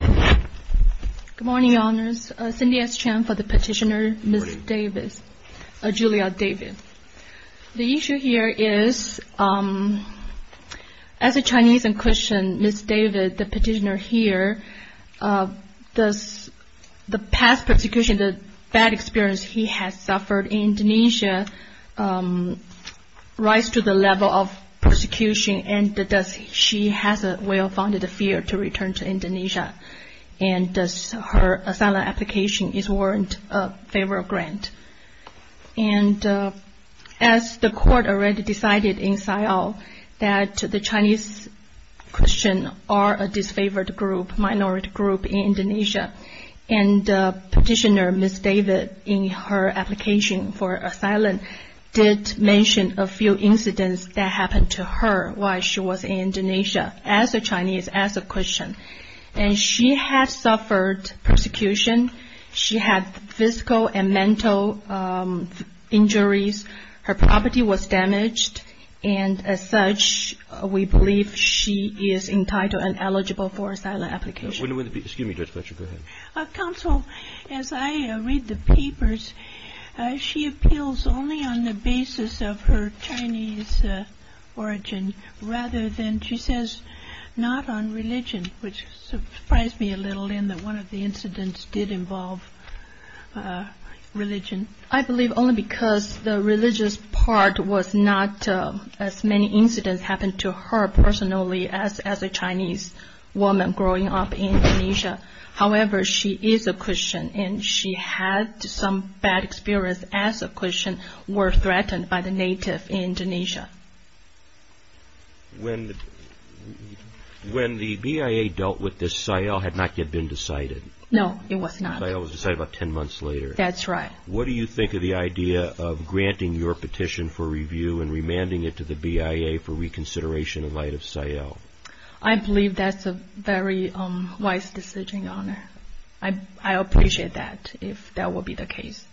Good morning, Your Honours. Cindy S. Chan for the petitioner, Ms. Julia David. The issue here is, as a Chinese and Christian, Ms. David, the petitioner here, the past persecution, the bad experience he has suffered in Indonesia, rise to the level of persecution, and she has a well-founded fear to return to Indonesia, and her asylum application is warranted a favour grant. And as the court already decided in Siao that the Chinese Christian are a disfavoured group, in Indonesia, and the petitioner, Ms. David, in her application for asylum, did mention a few incidents that happened to her while she was in Indonesia, as a Chinese, as a Christian. And she had suffered persecution, she had physical and mental injuries, her property was damaged, and as such, we believe she is entitled and eligible for asylum application. Excuse me, Judge Fletcher, go ahead. Counsel, as I read the papers, she appeals only on the basis of her Chinese origin, rather than, she says, not on religion, which surprised me a little in that one of the incidents did involve religion. I believe only because the religious part was not as many incidents happened to her personally as a Chinese woman growing up in Indonesia. However, she is a Christian, and she had some bad experience as a Christian, were threatened by the native in Indonesia. When the BIA dealt with this, Siao had not yet been decided. No, it was not. Siao was decided about ten months later. That's right. What do you think of the idea of granting your petition for review and remanding it to the BIA for reconsideration in light of Siao? I believe that's a very wise decision, Your Honor. I appreciate that, if that will be the case.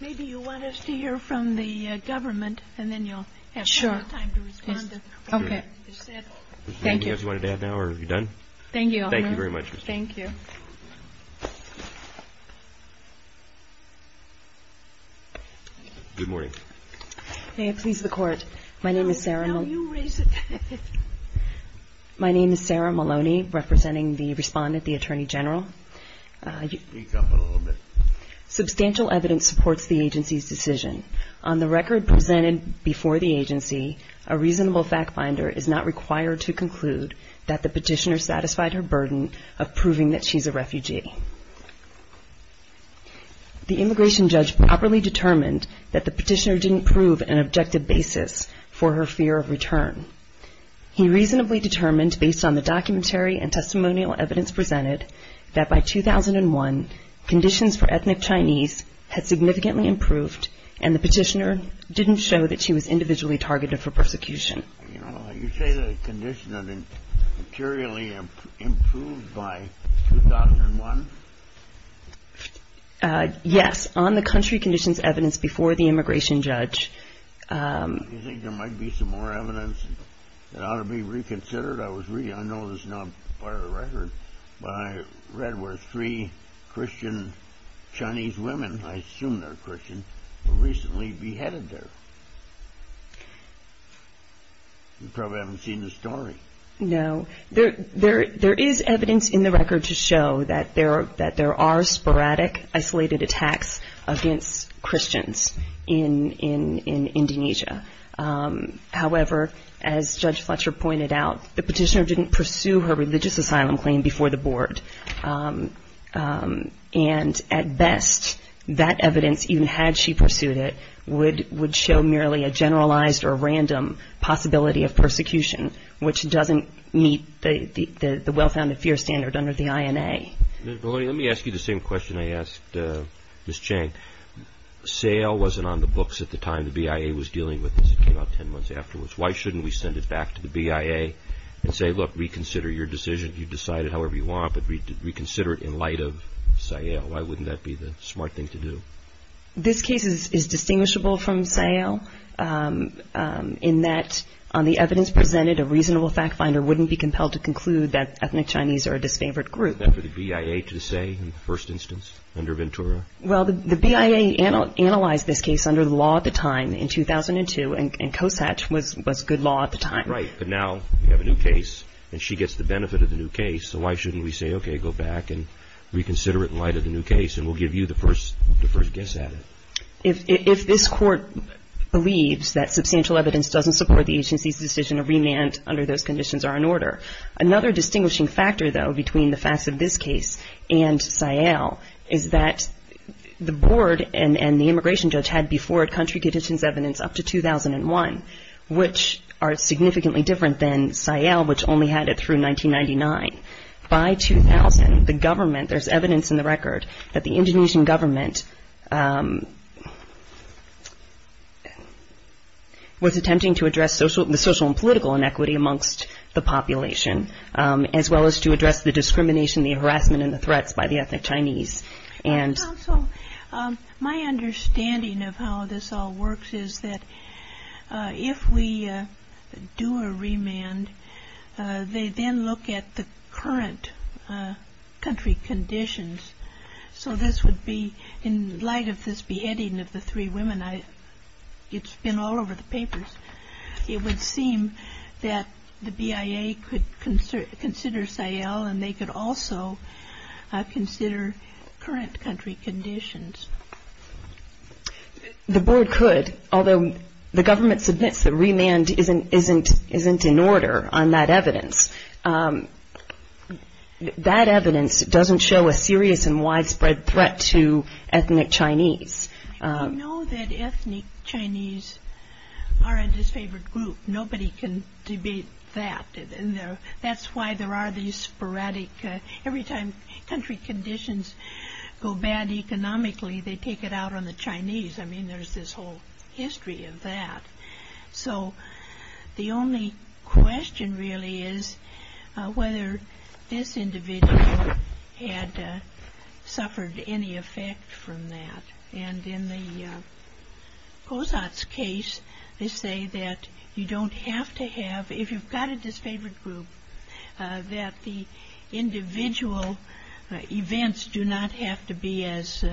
Maybe you want us to hear from the government, and then you'll have more time to respond. Okay. Thank you. Anything else you wanted to add now, or are you done? Thank you, Your Honor. Thank you very much. Thank you. Good morning. May it please the Court. My name is Sarah Maloney, representing the respondent, the Attorney General. Speak up a little bit. Substantial evidence supports the agency's decision. On the record presented before the agency, a reasonable fact-finder is not required to conclude that the petitioner satisfied her burden of proving that she's a refugee. The immigration judge properly determined that the petitioner didn't prove an objective basis for her fear of return. He reasonably determined, based on the documentary and testimonial evidence presented, that by 2001, conditions for ethnic Chinese had significantly improved and the petitioner didn't show that she was individually targeted for persecution. You say the condition had materially improved by 2001? Yes, on the country conditions evidence before the immigration judge. Do you think there might be some more evidence that ought to be reconsidered? I know this is not part of the record, but I read where three Christian Chinese women, I assume they're Christian, were recently beheaded there. You probably haven't seen the story. No. There is evidence in the record to show that there are sporadic, isolated attacks against Christians in Indonesia. However, as Judge Fletcher pointed out, the petitioner didn't pursue her religious asylum claim before the board. At best, that evidence, even had she pursued it, would show merely a generalized or random possibility of persecution, which doesn't meet the well-founded fear standard under the INA. Let me ask you the same question I asked Ms. Chang. Sale wasn't on the books at the time the BIA was dealing with this. It came out ten months afterwards. Why shouldn't we send it back to the BIA and say, look, reconsider your decision. You've decided however you want, but reconsider it in light of Sale. Why wouldn't that be the smart thing to do? This case is distinguishable from Sale in that on the evidence presented, a reasonable fact finder wouldn't be compelled to conclude that ethnic Chinese are a disfavored group. Was that for the BIA to say in the first instance under Ventura? Well, the BIA analyzed this case under the law at the time in 2002, and COSAT was good law at the time. Right, but now we have a new case, and she gets the benefit of the new case, so why shouldn't we say, okay, go back and reconsider it in light of the new case, and we'll give you the first guess at it. If this Court believes that substantial evidence doesn't support the agency's decision to remand under those conditions are in order. Another distinguishing factor, though, between the facts of this case and Sale is that the board and the immigration judge had before it country conditions evidence up to 2001, which are significantly different than Sale, which only had it through 1999. By 2000, the government, there's evidence in the record that the Indonesian government was attempting to address the social and political inequity amongst the population, as well as to address the discrimination, the harassment, and the threats by the ethnic Chinese. Counsel, my understanding of how this all works is that if we do a remand, they then look at the current country conditions. So this would be in light of this beheading of the three women. It would seem that the BIA could consider Sale, and they could also consider current country conditions. The board could, although the government submits the remand isn't in order on that evidence. That evidence doesn't show a serious and widespread threat to ethnic Chinese. I know that ethnic Chinese aren't his favorite group. Nobody can debate that. That's why there are these sporadic, every time country conditions go bad economically, they take it out on the Chinese. I mean, there's this whole history of that. So the only question really is whether this individual had suffered any effect from that. And in the Kozat's case, they say that you don't have to have, if you've got a disfavored group, that the individual events do not have to be as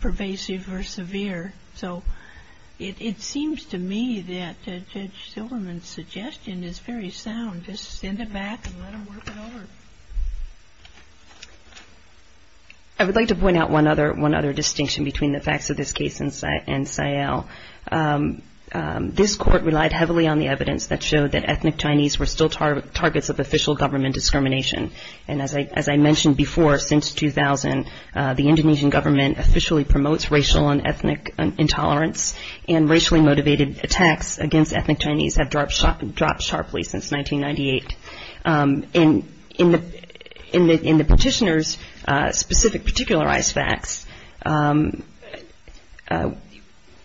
pervasive or severe. So it seems to me that Judge Silverman's suggestion is very sound. Just send it back and let them work it over. I would like to point out one other distinction between the facts of this case and Sale. This court relied heavily on the evidence that showed that ethnic Chinese were still targets of official government discrimination. And as I mentioned before, since 2000, the Indonesian government officially promotes racial and ethnic intolerance, and racially motivated attacks against ethnic Chinese have dropped sharply since 1998. In the petitioner's specific particularized facts,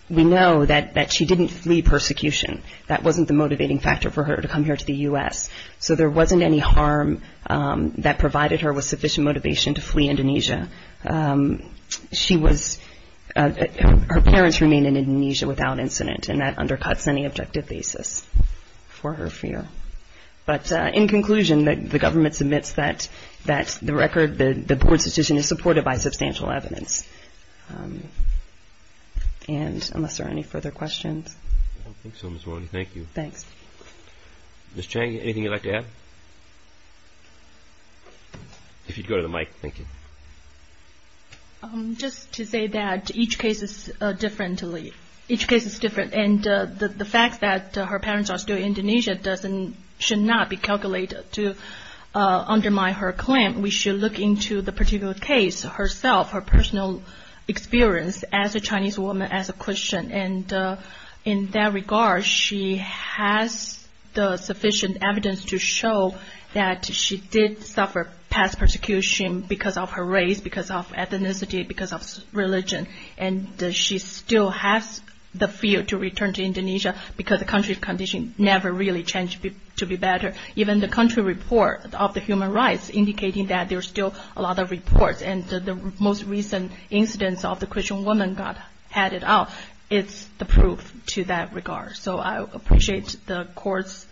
we know that she didn't flee persecution. That wasn't the motivating factor for her to come here to the U.S. So there wasn't any harm that provided her with sufficient motivation to flee Indonesia. Her parents remained in Indonesia without incident, and that undercuts any objective basis for her fear. But in conclusion, the government submits that the record, the board's decision, is supported by substantial evidence. And unless there are any further questions. I don't think so, Ms. Roney. Thank you. Thanks. Ms. Cheng, anything you'd like to add? If you'd go to the mic. Thank you. Just to say that each case is different. And the fact that her parents are still in Indonesia should not be calculated to undermine her claim. We should look into the particular case herself, her personal experience as a Chinese woman, as a Christian. And in that regard, she has the sufficient evidence to show that she did suffer past persecution because of her race, because of ethnicity, because of religion. And she still has the fear to return to Indonesia because the country's condition never really changed to be better. Even the country report of the human rights, indicating that there's still a lot of reports. And the most recent incidents of the Christian woman got added up. It's the proof to that regard. So I appreciate the courts,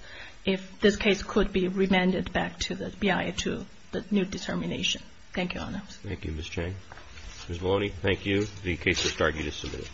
if this case could be remanded back to the BIA to the new determination. Thank you, Your Honor. Thank you, Ms. Cheng. Ms. Roney, thank you. The case is argued as submitted.